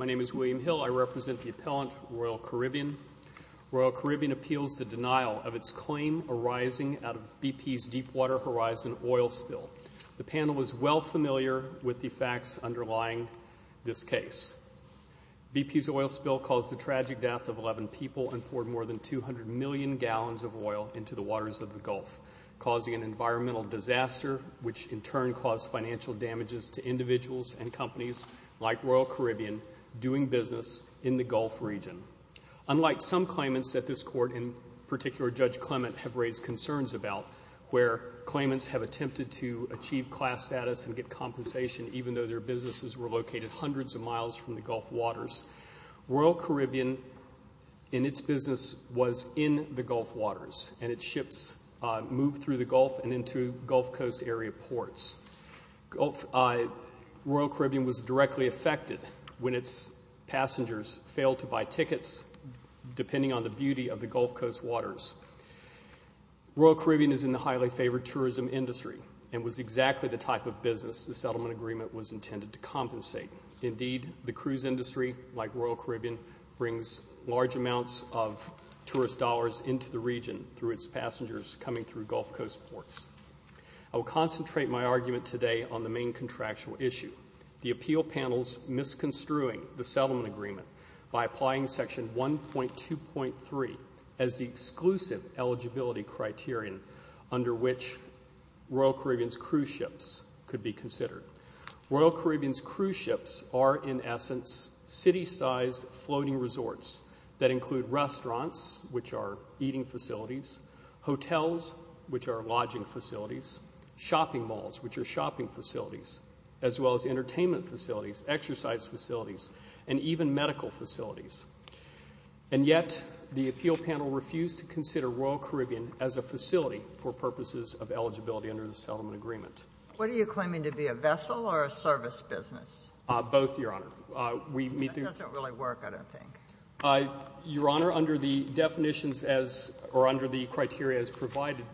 am William Hill. I represent the appellant Royal Caribbean. Royal Caribbean appeals the denial of its claim arising out of BP's Deepwater Horizon oil spill. The panel is well familiar with the facts underlying this case. BP's oil spill caused the tragic death of 11 people and poured more than 200 million gallons of oil into the waters of the Gulf, causing an environmental disaster, which in turn caused financial damages to individuals and companies like Royal Caribbean doing business in the Gulf region. Unlike some claimants that this Court, in particular Judge Clement, have raised concerns about, where claimants have attempted to achieve class status and get compensation, even though their businesses were located hundreds of miles from the Gulf waters, Royal Caribbean, in its business, was in the Gulf waters and its ships moved through the Gulf and into Gulf Coast area ports. Royal Caribbean was directly affected when its passengers failed to buy tickets, depending on the beauty of the Gulf Coast waters. Royal Caribbean is in the business the settlement agreement was intended to compensate. Indeed, the cruise industry, like Royal Caribbean, brings large amounts of tourist dollars into the region through its passengers coming through Gulf Coast ports. I will concentrate my argument today on the main contractual issue, the appeal panel's misconstruing the settlement agreement by applying Section 1.2.3 as the settlement agreement. Royal Caribbean's cruise ships are, in essence, city-sized floating resorts that include restaurants, which are eating facilities, hotels, which are lodging facilities, shopping malls, which are shopping facilities, as well as entertainment facilities, exercise facilities, and even medical facilities. And yet, the appeal panel refused to consider Royal Caribbean as a facility for purposes of eligibility under the settlement agreement. What are you claiming to be, a vessel or a service business? Both, Your Honor. We meet the... That doesn't really work, I don't think. Your Honor, under the definitions as, or under the criteria as provided,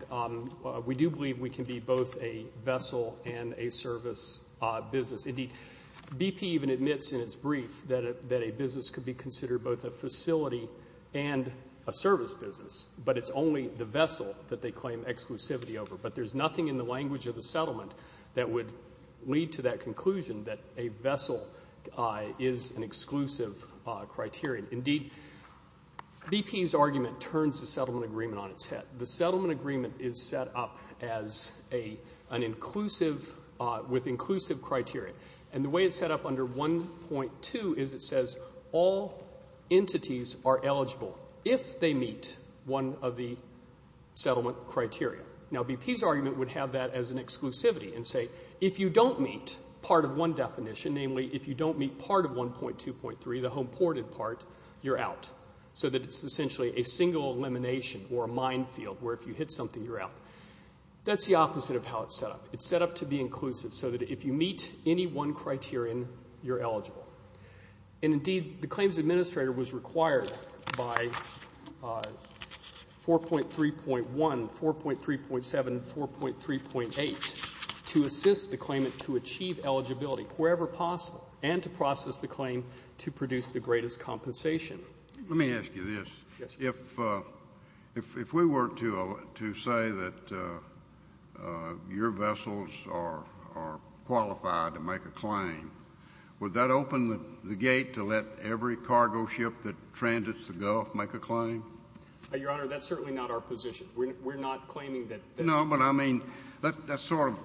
we do believe we can be both a vessel and a service business. Indeed, BP even admits in its brief that a business could be considered both a facility and a service business, but it's only the vessel that they would lead to that conclusion that a vessel is an exclusive criteria. Indeed, BP's argument turns the settlement agreement on its head. The settlement agreement is set up as an inclusive, with inclusive criteria. And the way it's set up under 1.2 is it says all entities are eligible if they meet one of the settlement criteria. Now, BP's argument would have that as an exclusivity and say, if you don't meet part of one definition, namely, if you don't meet part of 1.2.3, the home ported part, you're out. So that it's essentially a single elimination or a mine field where if you hit something, you're out. That's the opposite of how it's set up. It's set up to be inclusive so that if you meet any one criterion, you're eligible. And indeed, the claims assist the claimant to achieve eligibility wherever possible and to process the claim to produce the greatest compensation. JUSTICE SCALIA. Let me ask you this. If we were to say that your vessels are qualified to make a claim, would that open the gate to let every cargo ship that transits the Gulf make a claim? MR. GOLDSMITH. Your Honor, that's certainly not our position. We're not claiming that. But, I mean, that sort of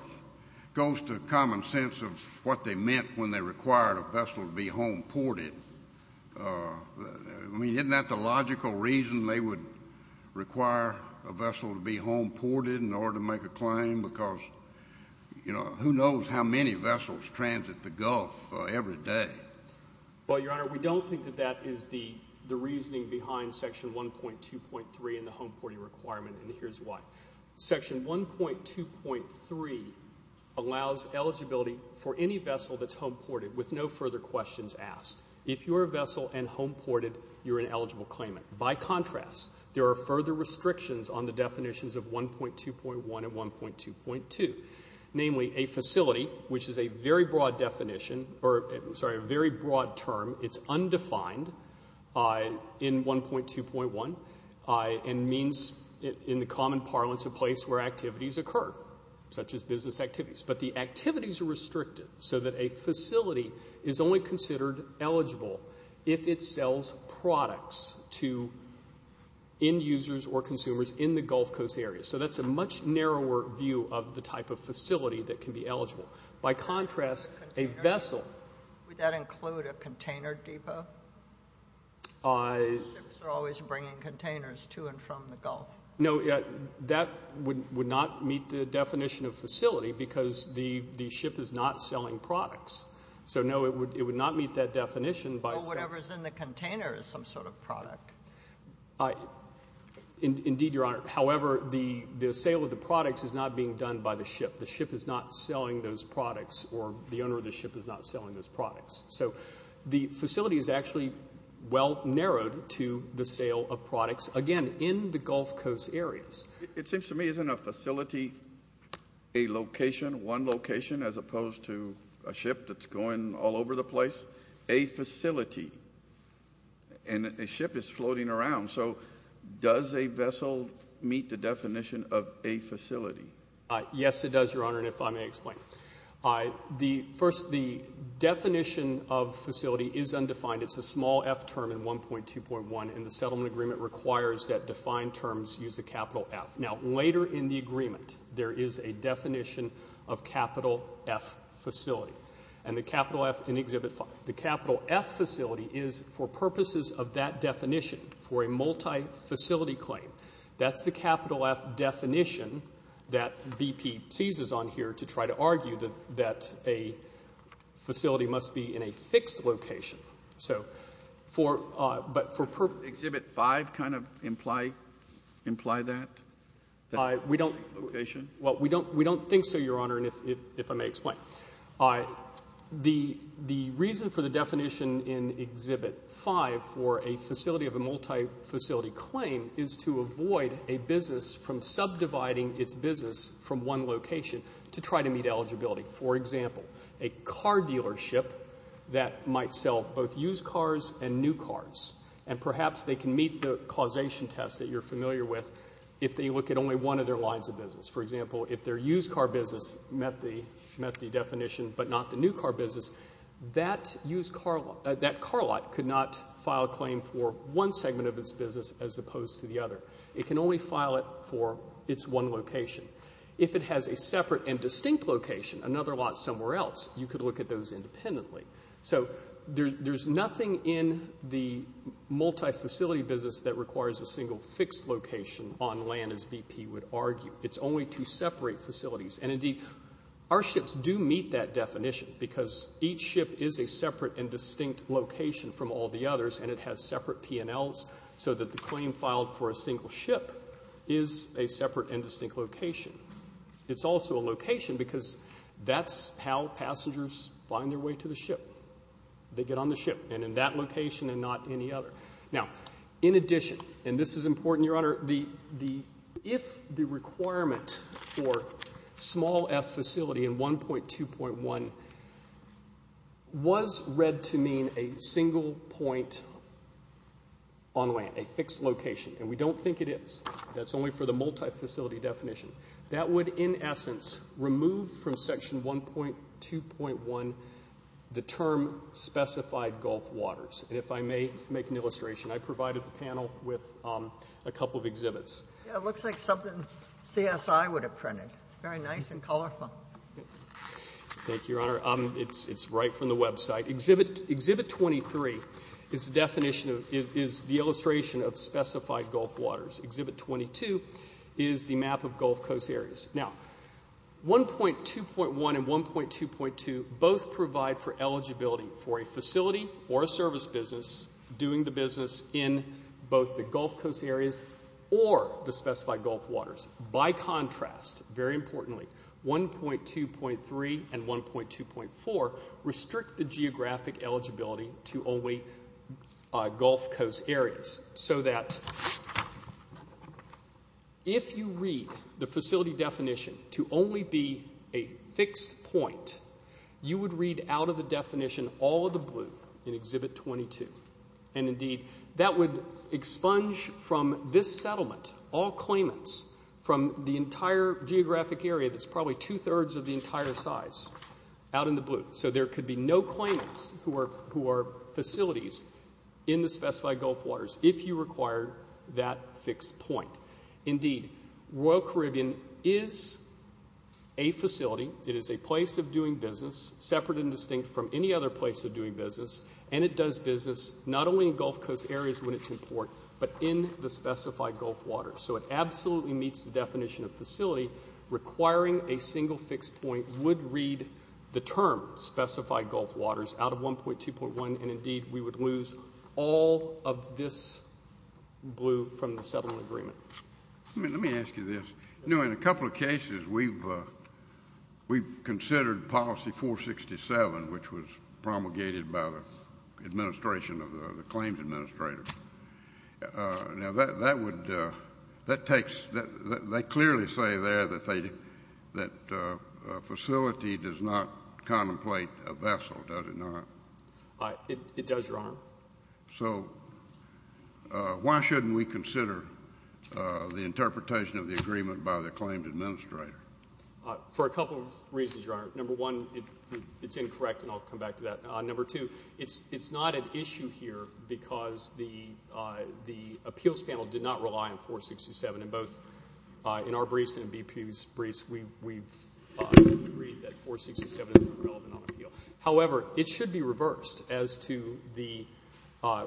goes to common sense of what they meant when they required a vessel to be home ported. I mean, isn't that the logical reason they would require a vessel to be home ported in order to make a claim? Because, you know, who knows how many vessels transit the Gulf every day? MR. GOLDSMITH. Well, Your Honor, we don't think that that is the reasoning behind Section 1.2.3 and the home porting requirement, and here's why. Section 1.2.3 allows eligibility for any vessel that's home ported with no further questions asked. If you're a vessel and home ported, you're an eligible claimant. By contrast, there are further restrictions on the definitions of 1.2.1 and 1.2.2, namely a facility, which is a very broad definition or, I'm sorry, a very broad definition. 1.2.1 means, in the common parlance, a place where activities occur, such as business activities. But the activities are restricted so that a facility is only considered eligible if it sells products to end users or consumers in the Gulf Coast area. So that's a much narrower view of the type of facility that can be eligible. By contrast, a vessel. JUSTICE SOTOMAYOR. Would that include a container depot? MR. GOLDSMITH. I... JUSTICE SOTOMAYOR. From the Gulf. MR. GOLDSMITH. No. That would not meet the definition of facility because the ship is not selling products. So, no, it would not meet that definition by saying... JUSTICE SOTOMAYOR. Well, whatever's in the container is some sort of product. MR. GOLDSMITH. Indeed, Your Honor. However, the sale of the products is not being done by the ship. The ship is not selling those products, or the owner of the ship is not selling those products. So the facility is actually well narrowed to the sale of products, again, in the Gulf Coast areas. JUSTICE SOTOMAYOR. It seems to me, isn't a facility a location, one location, as opposed to a ship that's going all over the place? A facility. And a ship is floating around. So does a vessel meet the definition of a facility? MR. GOLDSMITH. Yes, it does, Your Honor, and if I may explain. First, the definition of facility is undefined. It's a small F term in 1.2.1, and the settlement agreement requires that defined terms use a capital F. Now, later in the agreement, there is a definition of capital F facility, and the capital F in Exhibit 5. The capital F facility is, for purposes of that definition, for a multifacility claim, that's the capital F definition that BP seizes on here to try to argue that a facility must be in a fixed location. So for, but for purpose. JUSTICE SCALIA. Exhibit 5 kind of imply that? MR. GOLDSMITH. We don't. JUSTICE SCALIA. Location? MR. GOLDSMITH. Well, we don't think so, Your Honor, and if I may explain. The reason for the definition in Exhibit 5 for a facility of a multifacility claim is to avoid a business from subdividing its business from one location to try to meet eligibility. For example, a car dealership that might sell both used cars and new cars, and perhaps they can meet the causation test that you're familiar with if they look at only one of their lines of business. For example, if their used car business met the definition but not the new car business, that used car, that car lot could not file a claim for one segment of its business as opposed to the other. It can only file it for its one location. If it has a separate and distinct location, another lot somewhere else, you could look at those independently. So there's nothing in the multifacility business that requires a single fixed location on land, as BP would argue. It's only to separate facilities. And indeed, our ships do meet that definition because each ship is a separate and distinct location from all the others, and it has separate P&Ls so that the claim filed for a single ship is a separate and distinct location. It's also a location because that's how passengers find their way to the ship. They get on the ship, and in that location and not any other. Now, in addition, and this is important, Your Honor, if the requirement for small F facility in 1.2.1 was read to mean a single point on land, a fixed location, and we don't think it is, that's only for the multifacility definition, that would in essence remove from Section 1.2.1 the term specified Gulf waters. And if I may make an illustration, I provided the panel with a couple of exhibits. It looks like something CSI would have printed. It's very nice and colorful. Thank you, Your Honor. It's right from the website. Exhibit 23 is the definition of, is the illustration of specified Gulf waters. Exhibit 22 is the map of Gulf Coast areas. Now, 1.2.1 and 1.2.2 both provide for eligibility for a facility or a service business doing the business in both the Gulf Coast areas or the specified Gulf waters. By contrast, very importantly, 1.2.3 and 1.2.4 restrict the geographic eligibility to only Gulf Coast areas so that if you read the facility definition to only be a fixed point, you would read out of the definition all of the blue in Exhibit 22. And indeed, that would expunge from this settlement all claimants from the entire geographic area that's probably two-thirds of the entire size out in the blue. So there could be no claimants who are facilities in the specified Gulf waters if you require that fixed point. Indeed, Royal Caribbean is a facility. It is a place of doing business, separate and distinct from any other place of doing business. And it does business not only in Gulf Coast areas when it's in port, but in the specified Gulf waters. So it absolutely meets the definition of facility requiring a single fixed point would read the term specified waters out of 1.2.1. And indeed, we would lose all of this blue from the settlement agreement. Let me ask you this. In a couple of cases, we've considered policy 467, which was promulgated by the administration of the claims administrator. Now, that would, that takes, they clearly say there that facility does not contemplate a vessel, does it not? It does, Your Honor. So why shouldn't we consider the interpretation of the agreement by the claimed administrator? For a couple of reasons, Your Honor. Number one, it's incorrect, and I'll come back to that. Number two, it's not an issue here because the appeals panel did not rely on 467 in both our briefs and BP's briefs. We've agreed that 467 is not relevant on appeal. However, it should be reversed as to the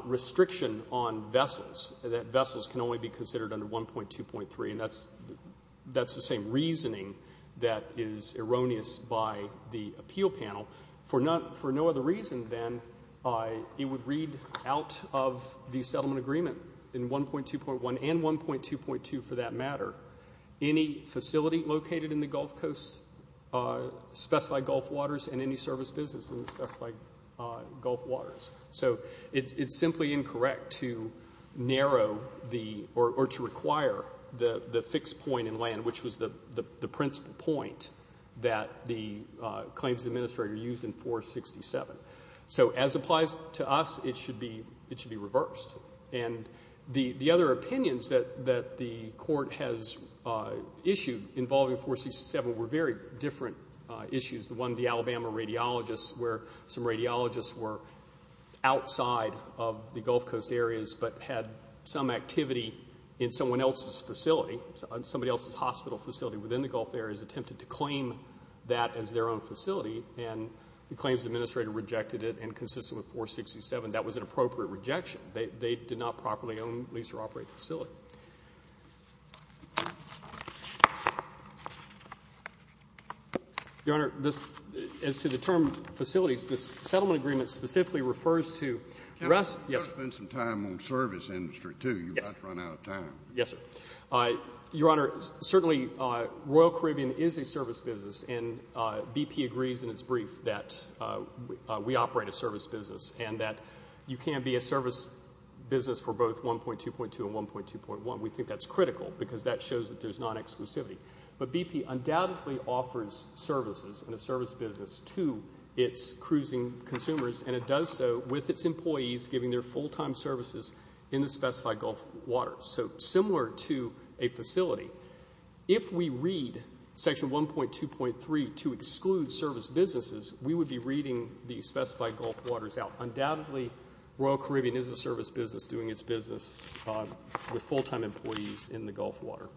restriction on vessels, that vessels can only be considered under 1.2.3, and that's the same reasoning that is erroneous by the appeal panel. For no other reason than it would read out of the settlement agreement in 1.2.1 and 1.2.2, for that matter, any facility located in the Gulf Coast specified Gulf waters and any service business specified Gulf waters. So it's simply incorrect to narrow the, or to require the fixed point in land, which was the principal point that the claims administrator used in 467. So as applies to us, it should be reversed. And the other opinions that the Court has issued involving 467 were very different issues. The one, the Alabama radiologists, where some radiologists were outside of the Gulf Coast areas but had some activity in someone else's facility, somebody else's hospital facility within the Gulf areas, attempted to claim that as their own facility, and the claims administrator rejected it, and consistent with 467, that was an appropriate rejection. They did not properly own, lease, or operate the facility. Your Honor, this, as to the term facilities, this settlement agreement specifically refers to rest, yes. You ought to spend some time on service industry, too. Yes. You might run out of time. Yes, sir. Your Honor, certainly Royal Caribbean is a service business, and BP agrees in its brief that we operate a service business and that you can be a service business for both 1.2.2 and 1.2.1. We think that's critical because that shows that there's non-exclusivity. But BP undoubtedly offers services and a service business to its cruising consumers, and it does so with its a facility. If we read Section 1.2.3 to exclude service businesses, we would be reading the specified Gulf waters out. Undoubtedly, Royal Caribbean is a service business doing its business with full-time employees in the Gulf water.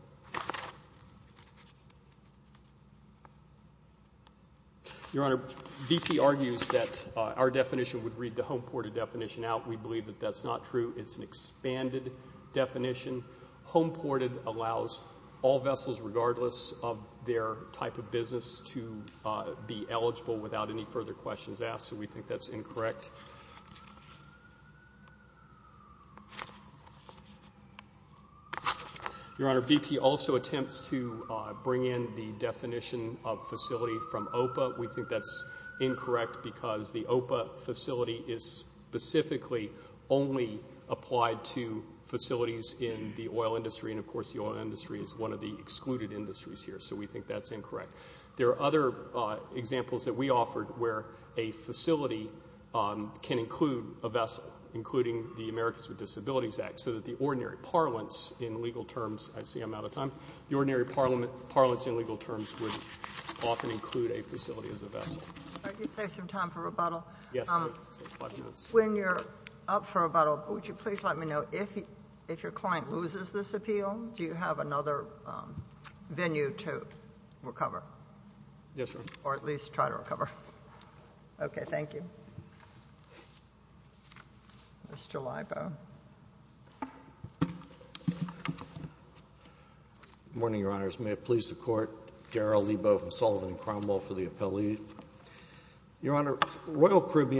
Your Honor, BP argues that our definition would read the home ported definition out. We believe that that's not true. It's an expanded definition. Home ported allows all vessels, regardless of their type of business, to be eligible without any further questions asked, so we think that's incorrect. Your Honor, BP also attempts to bring in the definition of facility from OPA. We think that's incorrect. The OPA facility is specifically only applied to facilities in the oil industry, and of course the oil industry is one of the excluded industries here, so we think that's incorrect. There are other examples that we offered where a facility can include a vessel, including the Americans with Disabilities Act, so that the ordinary parliaments in legal terms – I see I'm out of time – the ordinary parliaments in legal terms would often include a facility. When you're up for rebuttal, would you please let me know if your client loses this appeal, do you have another venue to recover? Yes, Your Honor. Or at least try to recover. Okay, thank you. Mr. Libo. Good morning, Your Honors. May it please the Court, Daryl Libo from Sullivan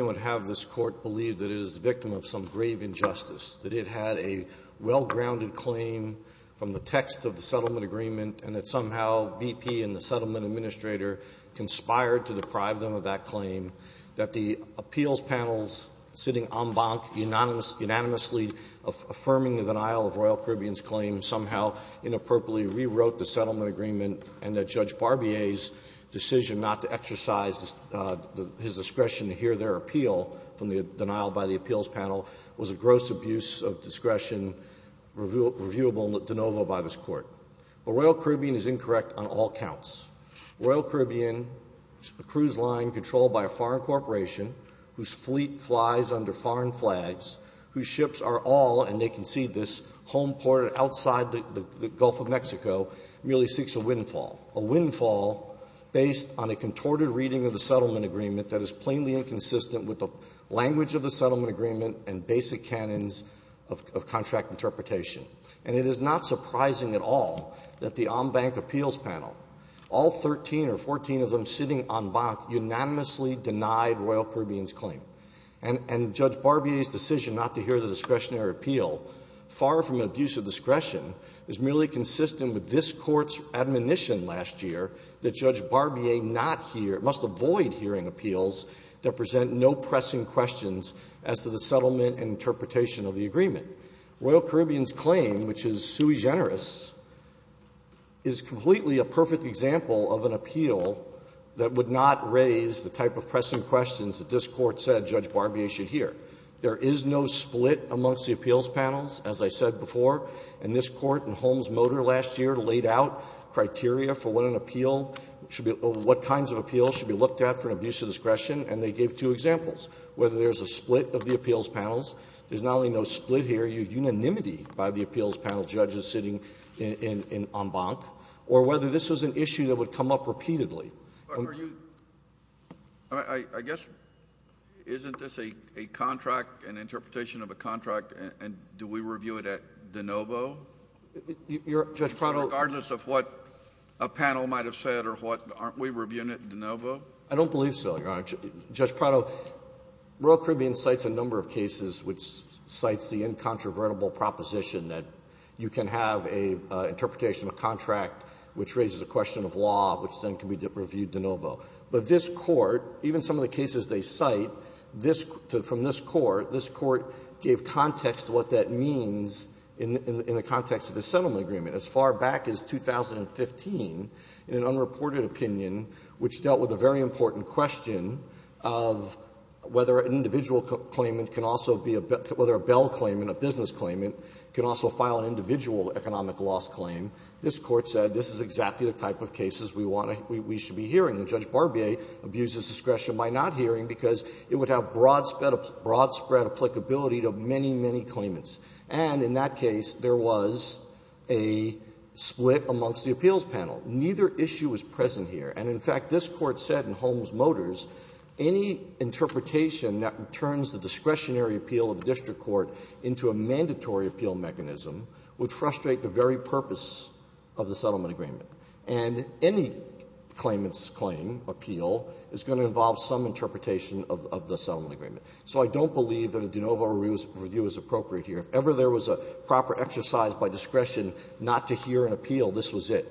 and have this Court believe that it is the victim of some grave injustice, that it had a well-grounded claim from the text of the settlement agreement, and that somehow BP and the settlement administrator conspired to deprive them of that claim, that the appeals panel's sitting en banc unanimously affirming the denial of Royal Caribbean's claim somehow inappropriately rewrote the settlement agreement, and that Judge Barbier's decision not to exercise his discretion to hear their appeal from the denial by the appeals panel was a gross abuse of discretion reviewable de novo by this Court. But Royal Caribbean is incorrect on all counts. Royal Caribbean, a cruise line controlled by a foreign corporation whose fleet flies under foreign flags, whose ships are all – and they can see this – home ported outside the Gulf of Mexico, merely seeks a windfall. A windfall based on a contorted reading of the settlement agreement that is plainly inconsistent with the language of the settlement agreement and basic canons of contract interpretation. And it is not surprising at all that the en banc appeals panel, all 13 or 14 of them sitting en banc, unanimously denied Royal Caribbean's claim. And Judge Barbier's decision not to hear the discretionary appeal, far from abuse of discretion, is merely consistent with this Court's admonition last year that Judge Barbier not hear – must avoid hearing appeals that present no pressing questions as to the settlement and interpretation of the agreement. Royal Caribbean's claim, which is sui generis, is completely a perfect example of an appeal that would not raise the type of pressing questions that this Court said Judge Barbier should hear. There is no split amongst the appeals panels, as I said before. And this Court in Holmes-Motor last year laid out criteria for what an appeal should be – what kinds of appeals should be looked at for abuse of discretion, and they gave two examples, whether there's a split of the appeals panels. There's not only no split here, there's unanimity by the appeals panel judges sitting en banc, or whether this was an issue that would come up repeatedly. Are you – I guess, isn't this a contract, an interpretation of a contract, and do we review it at de novo? Your – Judge Prado – Regardless of what a panel might have said or what – aren't we reviewing it de novo? I don't believe so, Your Honor. Judge Prado, Royal Caribbean cites a number of cases which cites the incontrovertible proposition that you can have a interpretation of a contract which raises a question of law, which then can be reviewed de novo. But this Court, even some of the cases they cite, this – from this Court, this Court gave context to what that means in the context of the settlement agreement. As far back as 2015, in an unreported opinion, which dealt with a very important question of whether an individual claimant can also be a – whether a Bell claimant, a business claimant, can also file an individual economic loss claim. This Court said this is exactly the type of cases we want to – we should be hearing. And Judge Barbier abuses discretion by not hearing because it would have broad spread – broad spread applicability to many, many claimants. And in that case, there was a split amongst the appeals panel. Neither issue was present here. And, in fact, this Court said in Holmes Motors any interpretation that turns the discretionary appeal of the district court into a mandatory appeal mechanism would frustrate the very purpose of the settlement agreement. And any claimant's claim, appeal, is going to involve some interpretation of the settlement agreement. So I don't believe that a de novo review is appropriate here. If ever there was a proper exercise by discretion not to hear an appeal, this was it.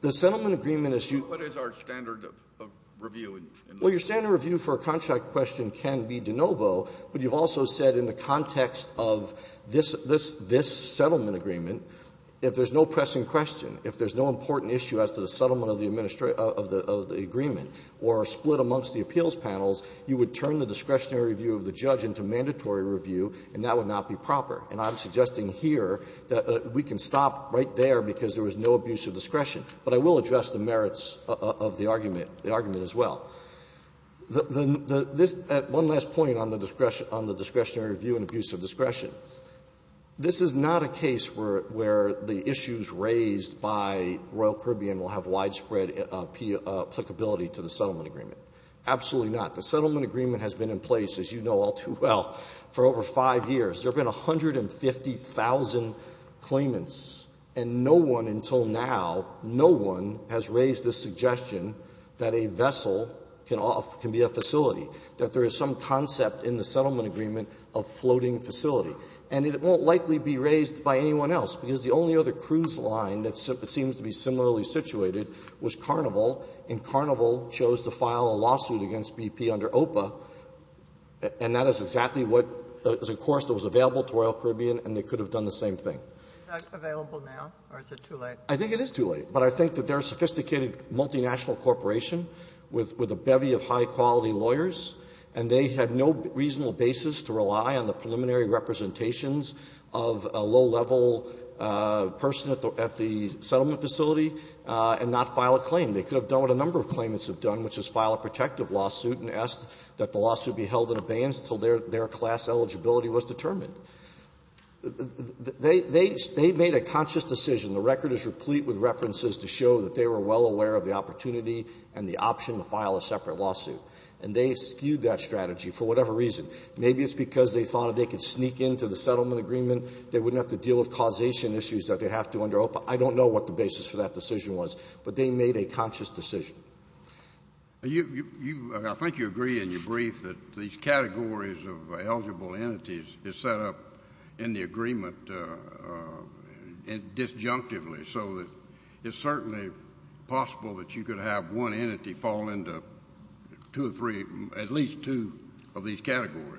The settlement agreement is you – Kennedy, what is our standard of review in this case? Well, your standard review for a contract question can be de novo, but you've also said in the context of this – this settlement agreement, if there's no pressing question, if there's no important issue as to the settlement of the administration – of the agreement or a split amongst the appeals panels, you would turn the discretionary review of the judge into mandatory review, and that would not be proper. And I'm suggesting here that we can stop right there because there was no abuse of discretion. But I will address the merits of the argument – the argument as well. The – this – at one last point on the discretionary review and abuse of discretion. This is not a case where the issues raised by Royal Caribbean will have widespread applicability to the settlement agreement. Absolutely not. The settlement agreement has been in place, as you know all too well, for over 5 years. There have been 150,000 claimants, and no one until now, no one has raised the suggestion that a vessel can off – can be a facility, that there is some concept in the settlement agreement of floating facility. And it won't likely be raised by anyone else, because the only other cruise line that seems to be similarly situated was Carnival, and Carnival chose to file a lawsuit against BP under OPA, and that is exactly what – of course, it was available to Royal Caribbean, and they could have done the same thing. Ginsburg. Is that available now, or is it too late? I think it is too late, but I think that they're a sophisticated multinational corporation with a bevy of high-quality lawyers, and they had no reasonable basis to rely on the preliminary representations of a low-level person at the settlement facility and not file a claim. They could have done what a number of claimants have done, which is file a protective lawsuit and ask that the lawsuit be held in abeyance until their class eligibility was determined. They made a conscious decision. The record is replete with references to show that they were well aware of the opportunity and the option to file a separate lawsuit. And they skewed that strategy for whatever reason. Maybe it's because they thought if they could sneak into the settlement agreement, they wouldn't have to deal with causation issues that they'd have to under OPA. I don't know what the basis for that decision was, but they made a conscious decision. You – you – I think you agree in your brief that these categories of eligible entities is set up in the agreement disjunctively, so that it's certainly possible that you could have one entity fall into two or three, at least two of these categories.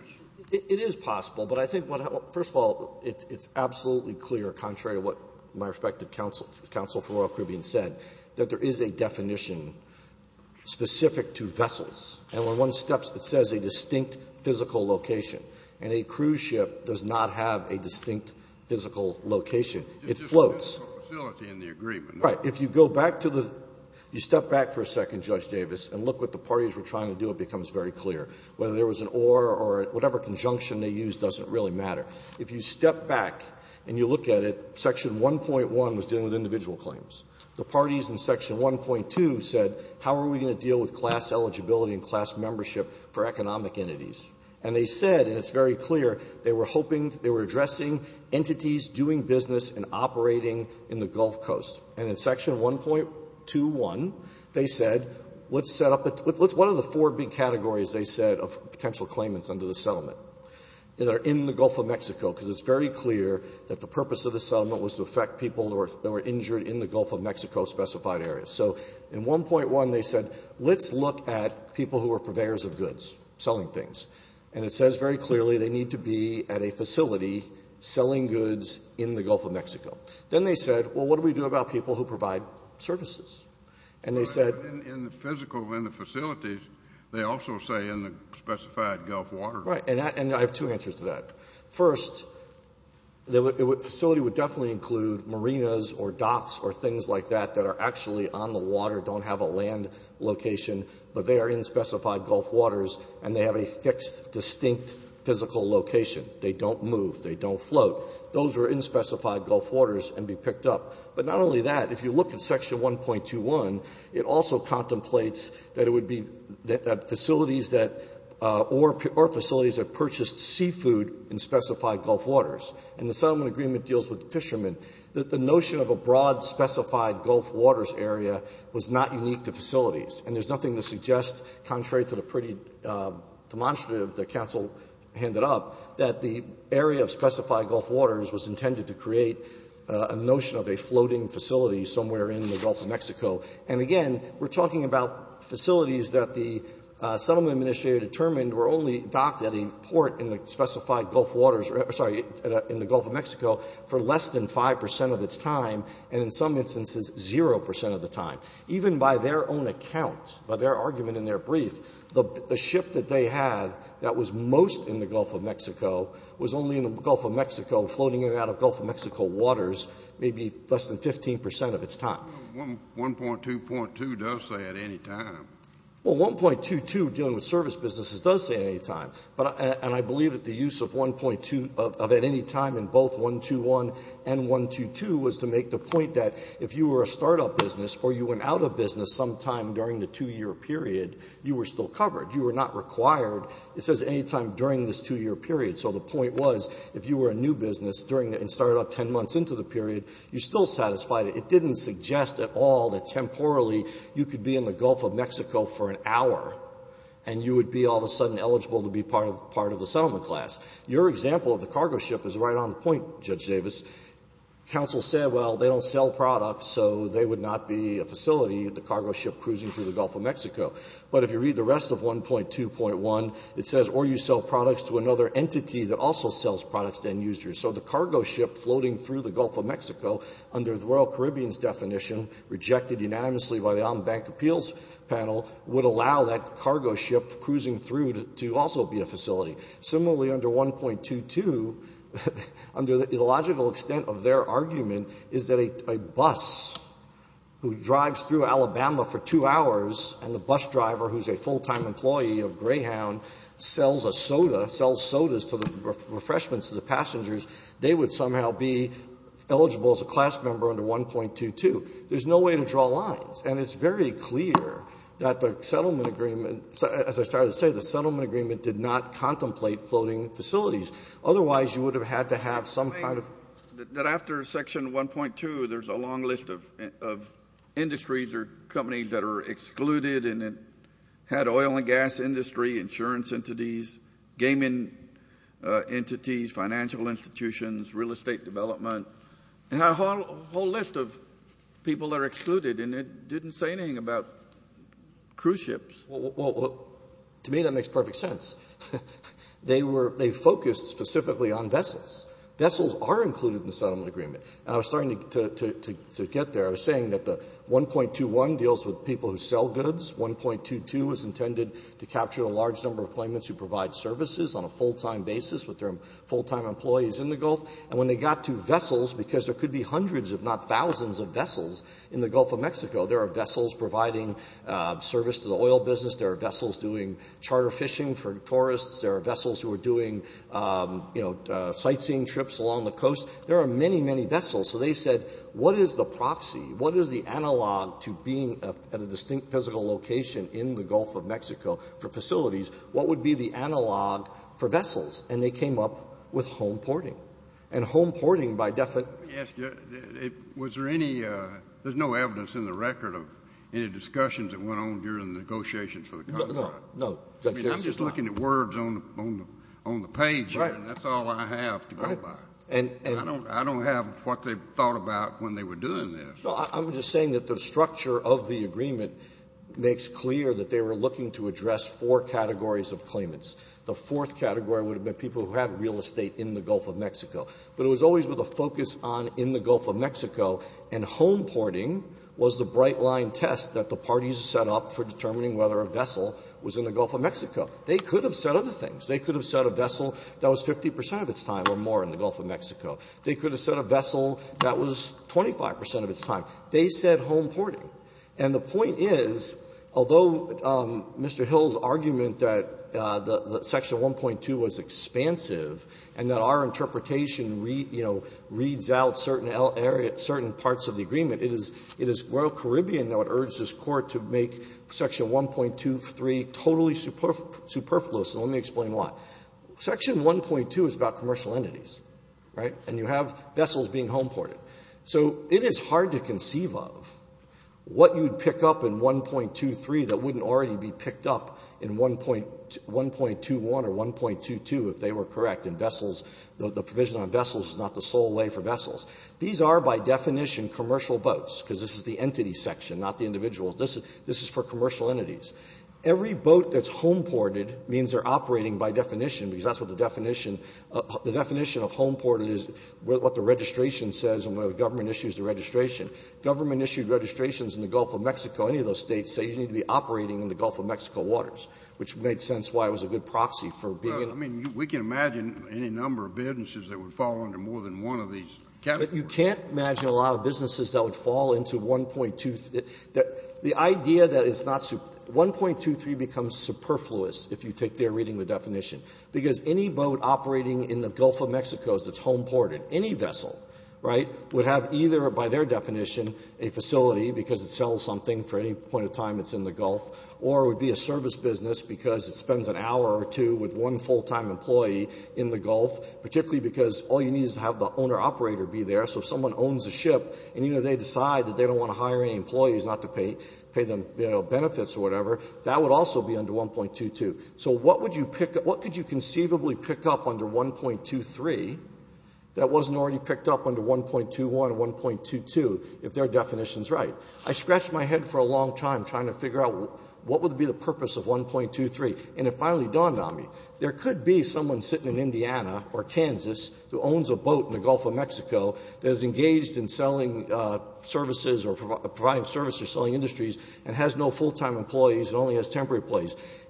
It is possible. But I think what – first of all, it's absolutely clear, contrary to what my respective counsel, counsel for Royal Caribbean said, that there is a definition specific to vessels. And when one steps, it says a distinct physical location. And a cruise ship does not have a distinct physical location. It floats. It's just a physical facility in the agreement. Right. If you go back to the – you step back for a second, Judge Davis, and look what the parties were trying to do, it becomes very clear. Whether there was an or or whatever conjunction they used doesn't really matter. If you step back and you look at it, section 1.1 was dealing with individual claims. The parties in section 1.2 said, how are we going to deal with class eligibility and class membership for economic entities? And they said, and it's very clear, they were hoping – they were addressing entities doing business and operating in the Gulf Coast. And in section 1.21, they said, let's set up a – let's – one of the four big categories, they said, of potential claimants under the settlement. They're in the Gulf of Mexico because it's very clear that the purpose of the settlement was to affect people that were injured in the Gulf of Mexico specified areas. So in 1.1, they said, let's look at people who are purveyors of goods, selling things. And it says very clearly they need to be at a facility selling goods in the Gulf of Mexico. Then they said, well, what do we do about people who provide services? And they said – Kennedy, in the physical – in the facilities, they also say in the specified Gulf water. Right. And I have two answers to that. First, the facility would definitely include marinas or docks or things like that that are actually on the water, don't have a land location, but they are in specified Gulf waters, and they have a fixed, distinct physical location. They don't move. They don't float. Those are in specified Gulf waters and be picked up. But not only that. If you look at section 1.21, it also contemplates that it would be – that facilities that – or facilities that purchased seafood in specified Gulf waters. And the settlement agreement deals with the fishermen. The notion of a broad specified Gulf waters area was not unique to facilities. And there's nothing to suggest, contrary to the pretty demonstrative that counsel handed up, that the area of specified Gulf waters was intended to create a notion of a floating facility somewhere in the Gulf of Mexico. And again, we're talking about facilities that the settlement administrator determined were only docked at a port in the specified Gulf waters – sorry, in the Gulf of Mexico – for less than 5 percent of its time, and in some instances, zero percent of the time. Even by their own account, by their argument in their brief, the ship that they had that was most in the Gulf of Mexico was only in the Gulf of Mexico, floating in and out of Gulf of Mexico waters, maybe less than 15 percent of its time. Kennedy. 1.2.2 does say at any time. Horwich. Well, 1.22, dealing with service businesses, does say at any time. But – and I believe that the use of 1.2 – of at any time in both 1.2.1 and 1.2.2 was to make the point that if you were a startup business or you went out of business sometime during the two-year period, you were still covered. You were not required, it says, any time during this two-year period. So the point was, if you were a new business during – and started up 10 months into the period, you still satisfied it. It didn't suggest at all that temporally you could be in the Gulf of Mexico for an hour, and you would be all of a sudden eligible to be part of the settlement class. Your example of the cargo ship is right on the point, Judge Davis. Counsel said, well, they don't sell products, so they would not be a facility, the cargo ship cruising through the Gulf of Mexico. But if you read the rest of 1.2.1, it says, or you sell products to another entity that also sells products to end users. So the cargo ship floating through the Gulf of Mexico, under the Royal Caribbean's definition, rejected unanimously by the Ombank appeals panel, would allow that cargo ship cruising through to also be a facility. Similarly, under 1.22, under the illogical extent of their argument, is that a bus who drives through Alabama for two hours, and the bus driver, who is a full-time employee of Greyhound, sells a soda, sells sodas for refreshments to the passengers, they would somehow be eligible as a class member under 1.22. There's no way to draw lines. And it's very clear that the settlement agreement, as I started to say, the settlement agreement did not contemplate floating facilities. Otherwise, you would have had to have some kind of ---- Kennedy, that after section 1.2, there's a long list of industries or companies that are excluded, and it had oil and gas industry, insurance entities, gaming entities, financial institutions, real estate development, and a whole list of people that are excluded, and it didn't say anything about cruise ships. Well, to me, that makes perfect sense. They were ---- they focused specifically on vessels. Vessels are included in the settlement agreement. And I was starting to get there. I was saying that the 1.21 deals with people who sell goods. 1.22 is intended to capture a large number of claimants who provide services on a full-time basis with their full-time employees in the Gulf. And when they got to vessels, because there could be hundreds, if not thousands of vessels in the Gulf of Mexico. There are vessels providing service to the oil business. There are vessels doing charter fishing for tourists. There are vessels who are doing, you know, sightseeing trips along the coast. There are many, many vessels. So they said, what is the proxy? What is the analog to being at a distinct physical location in the Gulf of Mexico for facilities? What would be the analog for vessels? And they came up with home porting. And home porting by definition ---- Let me ask you, was there any ---- there's no evidence in the record of any discussions that went on during the negotiations for the contract. No, no. I mean, I'm just looking at words on the page, and that's all I have to go by. And I don't have what they thought about when they were doing this. No, I'm just saying that the structure of the agreement makes clear that they were looking to address four categories of claimants. The fourth category would have been people who have real estate in the Gulf of Mexico. But it was always with a focus on in the Gulf of Mexico, and home porting was the bright-line test that the parties set up for determining whether a vessel was in the Gulf of Mexico. They could have said other things. They could have said a vessel that was 50 percent of its time or more in the Gulf of Mexico. They could have said a vessel that was 25 percent of its time. They said home porting. And the point is, although Mr. Hill's argument that the section 1.2 was expansive and that our interpretation, you know, reads out certain parts of the agreement, it is Royal Caribbean that would urge this Court to make section 1.23 totally superfluous, and let me explain why. Section 1.2 is about commercial entities, right? And you have vessels being home ported. So it is hard to conceive of what you'd pick up in 1.23 that wouldn't already be picked up in 1.21 or 1.22 if they were correct. And vessels, the provision on vessels is not the sole way for vessels. These are, by definition, commercial boats, because this is the entity section, not the individual. This is for commercial entities. Every boat that's home ported means they're operating by definition, because that's what the definition of home ported is, what the registration says when the government issues the registration. Government-issued registrations in the Gulf of Mexico, any of those States, say you need to be operating in the Gulf of Mexico waters, which made sense why it was a good proxy for being in the Gulf. Kennedy, we can imagine any number of businesses that would fall under more than one of these categories. But you can't imagine a lot of businesses that would fall into 1.2. The idea that it's not so – 1.23 becomes superfluous if you take their reading of the definition, because any boat operating in the Gulf of Mexico that's home ported, any vessel, right, would have either, by their definition, a facility because it sells something for any point of time it's in the Gulf, or it would be a service business because it spends an hour or two with one full-time employee in the Gulf, particularly because all you need is to have the owner-operator be there. So if someone owns a ship and, you know, they decide that they don't want to hire any employees, not to pay them, you know, benefits or whatever, that would also be under 1.22. So what would you pick up – what could you conceivably pick up under 1.23 that wasn't already picked up under 1.21 and 1.22 if their definition is right? I scratched my head for a long time trying to figure out what would be the purpose of 1.23, and it finally dawned on me. There could be someone sitting in Indiana or Kansas who owns a boat in the Gulf of Mexico that is engaged in selling services or providing services or selling So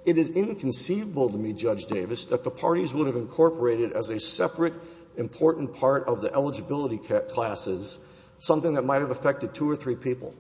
it is inconceivable to me, Judge Davis, that the parties would have incorporated as a separate important part of the eligibility classes something that might have affected two or three people.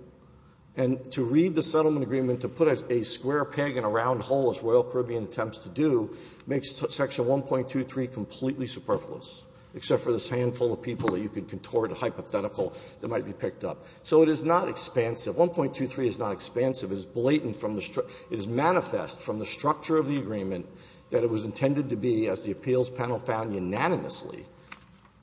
And to read the settlement agreement to put a square peg in a round hole, as Royal Caribbean attempts to do, makes Section 1.23 completely superfluous, except for this handful of people that you could contort hypothetical that might be picked up. So it is not expansive. 1.23 is not expansive. It is blatant from the structural – it is manifest from the structure of the agreement that it was intended to be, as the appeals panel found unanimously,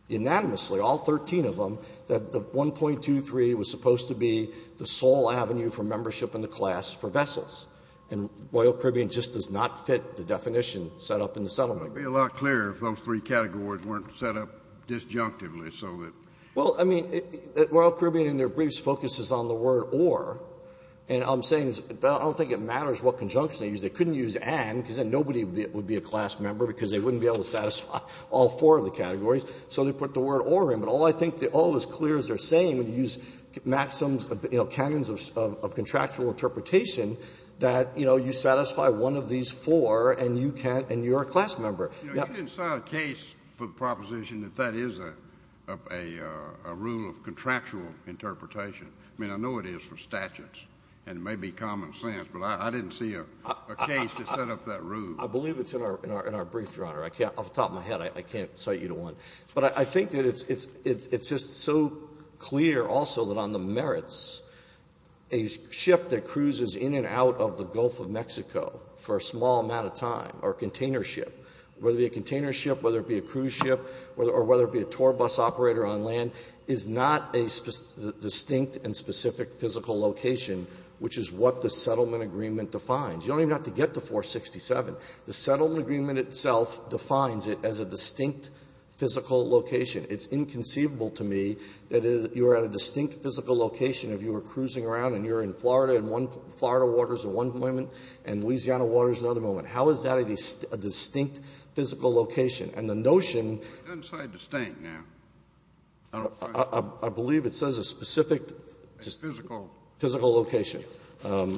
unanimously, all 13 of them, that the 1.23 was supposed to be the sole avenue for membership in the class for vessels. And Royal Caribbean just does not fit the definition set up in the settlement. Kennedy. It would be a lot clearer if those three categories weren't set up disjunctively so that – Well, I mean, Royal Caribbean in their briefs focuses on the word or, and I'm saying I don't think it matters what conjunction they use. They couldn't use and because then nobody would be a class member because they wouldn't be able to satisfy all four of the categories, so they put the word or in. But all I think, all is clear is they're saying when you use maxims, you know, canons of contractual interpretation that, you know, you satisfy one of these four and you can't – and you're a class member. You know, you didn't sign a case for the proposition that that is a rule of contractual interpretation. I mean, I know it is for statutes, and it may be common sense, but I didn't see a case that set up that rule. I believe it's in our brief, Your Honor. I can't – off the top of my head, I can't cite you to one. But I think that it's just so clear also that on the merits, a ship that cruises in and out of the Gulf of Mexico for a small amount of time or a container ship, whether it be a container ship, whether it be a cruise ship, or whether it be a tour bus operator on land, is not a distinct and specific physical location, which is what the settlement agreement defines. You don't even have to get to 467. The settlement agreement itself defines it as a distinct physical location. It's inconceivable to me that you are at a distinct physical location if you were cruising around and you're in Florida and one – Florida water is at one moment and Louisiana water is at another moment. How is that a distinct physical location? And the notion… Kennedy, it doesn't say distinct now. I don't find it. I believe it says a specific physical location. I have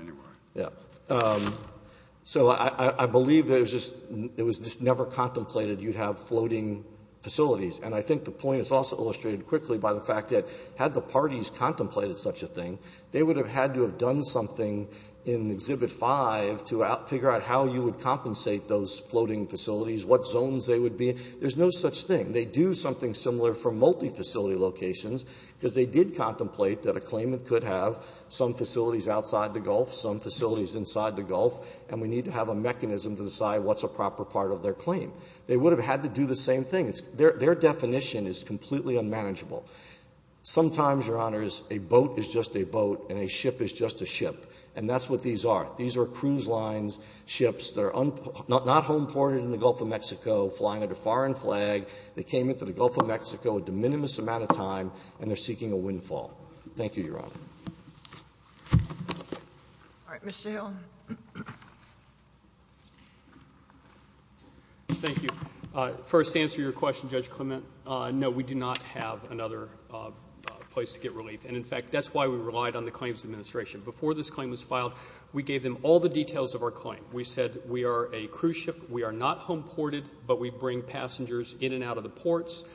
anyway. Yeah. So I believe it was just never contemplated you'd have floating facilities. And I think the point is also illustrated quickly by the fact that had the parties contemplated such a thing, they would have had to have done something in Exhibit V to figure out how you would compensate those floating facilities, what zones they would be. There's no such thing. They do something similar for multifacility locations, because they did contemplate that a claimant could have some facilities outside the Gulf, some facilities inside the Gulf, and we need to have a mechanism to decide what's a proper part of their claim. They would have had to do the same thing. Their definition is completely unmanageable. Sometimes, Your Honors, a boat is just a boat and a ship is just a ship. And that's what these are. These are cruise lines, ships that are not home ported in the Gulf of Mexico, flying at a foreign flag. They came into the Gulf of Mexico at a de minimis amount of time, and they're seeking a windfall. Thank you, Your Honor. All right, Mr. Hill. Thank you. First, to answer your question, Judge Clement, no, we do not have another place to get relief. And, in fact, that's why we relied on the Claims Administration. Before this claim was filed, we gave them all the details of our claim. We said we are a cruise ship. We are not home ported, but we bring passengers in and out of the ports.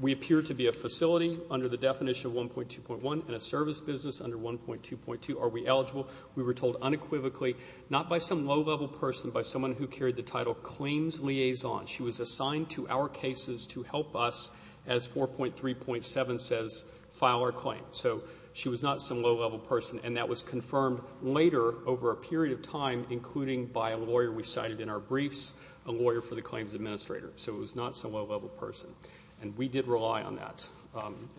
We appear to be a facility under the definition of 1.2.1 and a service business under 1.2.2. Are we eligible? We were told unequivocally, not by some low-level person, but by someone who carried the title Claims Liaison. She was assigned to our cases to help us, as 4.3.7 says, file our claim. So she was not some low-level person. And that was confirmed later over a period of time, including by a lawyer we cited in our briefs, a lawyer for the Claims Administrator. So it was not some low-level person. And we did rely on that.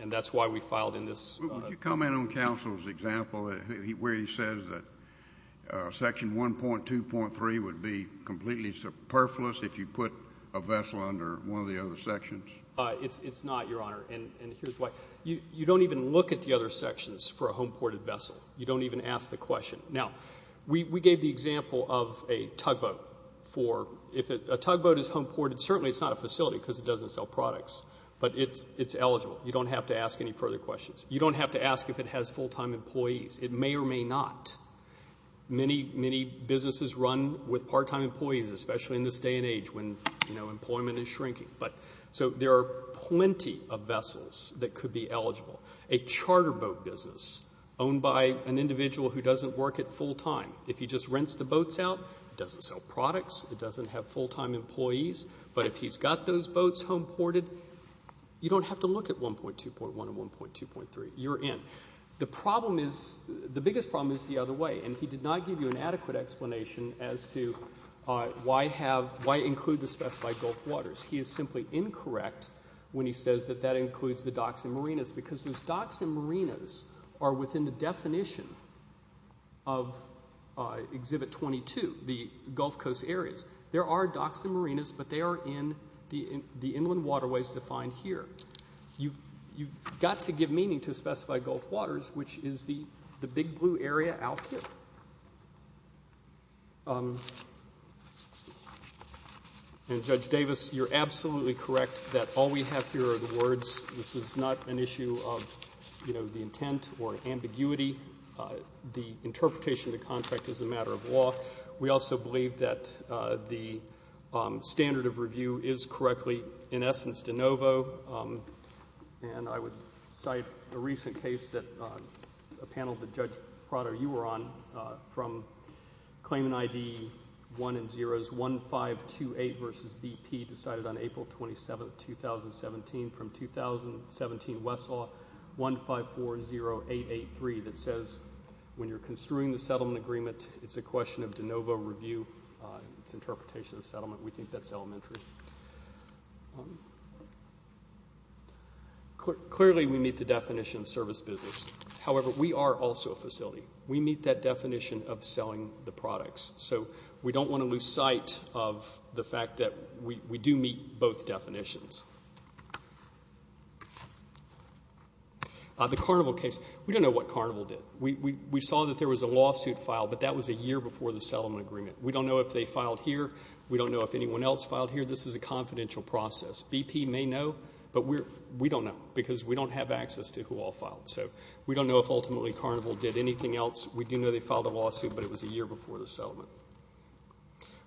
And that's why we filed in this. Would you comment on counsel's example where he says that Section 1.2.3 would be a vessel under one of the other sections? It's not, Your Honor. And here's why. You don't even look at the other sections for a home-ported vessel. You don't even ask the question. Now, we gave the example of a tugboat for if a tugboat is home ported. Certainly, it's not a facility because it doesn't sell products. But it's eligible. You don't have to ask any further questions. You don't have to ask if it has full-time employees. It may or may not. Many, many businesses run with part-time employees, especially in this day and age when employment is shrinking. So there are plenty of vessels that could be eligible. A charter boat business owned by an individual who doesn't work at full time. If he just rents the boats out, it doesn't sell products. It doesn't have full-time employees. But if he's got those boats home ported, you don't have to look at 1.2.1 and 1.2.3. You're in. The problem is, the biggest problem is the other way. And he did not give you an adequate explanation as to why include the specified Gulf waters. He is simply incorrect when he says that that includes the docks and marinas. Because those docks and marinas are within the definition of Exhibit 22, the Gulf Coast areas. There are docks and marinas, but they are in the inland waterways defined here. You've got to give meaning to specified Gulf waters, which is the big blue area out here. And Judge Davis, you're absolutely correct that all we have here are the words. This is not an issue of, you know, the intent or ambiguity. The interpretation of the contract is a matter of law. We also believe that the standard of review is correctly, in essence, de novo. And I would cite a recent case that a panel that Judge Prado, you were on from claimant ID 1 and 0s 1528 versus BP decided on April 27th, 2017. From 2017, Westlaw 1540883 that says, when you're construing the settlement agreement, it's a question of de novo review, it's interpretation of the settlement. We think that's elementary. Clearly, we meet the definition of service business. However, we are also a facility. We meet that definition of selling the products. So we don't want to lose sight of the fact that we do meet both definitions. The Carnival case, we don't know what Carnival did. We saw that there was a lawsuit filed, but that was a year before the settlement agreement. We don't know if they filed here. We don't know if anyone else filed here. This is a confidential process. BP may know, but we don't know because we don't have access to who all filed. So we don't know if ultimately Carnival did anything else. We do know they filed a lawsuit, but it was a year before the settlement.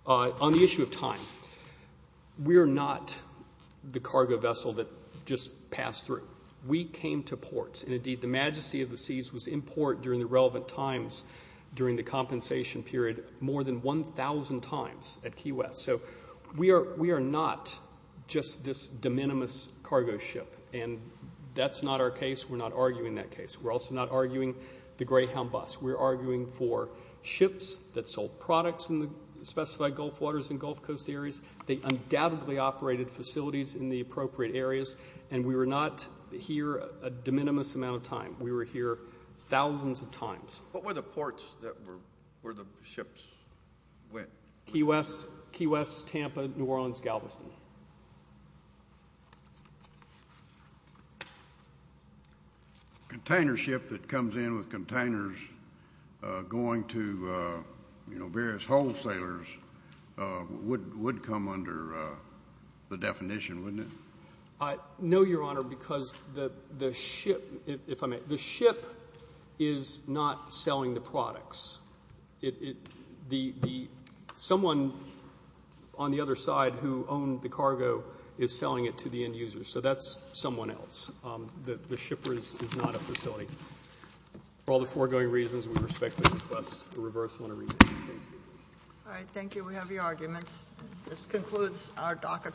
On the issue of time, we are not the cargo vessel that just passed through. We came to ports. And indeed, the Majesty of the Seas was in port during the relevant times during the compensation period, more than 1,000 times at Key West. So we are not just this de minimis cargo ship. And that's not our case. We're not arguing that case. We're also not arguing the Greyhound bus. We're arguing for ships that sold products in the specified Gulf waters and Gulf Coast areas. They undoubtedly operated facilities in the appropriate areas. And we were not here a de minimis amount of time. We were here thousands of times. What were the ports that were the ships went? Key West, Tampa, New Orleans, Galveston. A container ship that comes in with containers going to, you know, various wholesalers would come under the definition, wouldn't it? I know, Your Honor, because the ship, if I may, the ship is not selling the products. It, the, someone on the other side who owned the cargo is selling it to the end user. So that's someone else. The shipper is not a facility. For all the foregoing reasons, we respectfully request a reversal and a remission. Thank you. All right. Thank you. We have your arguments. This concludes our docket.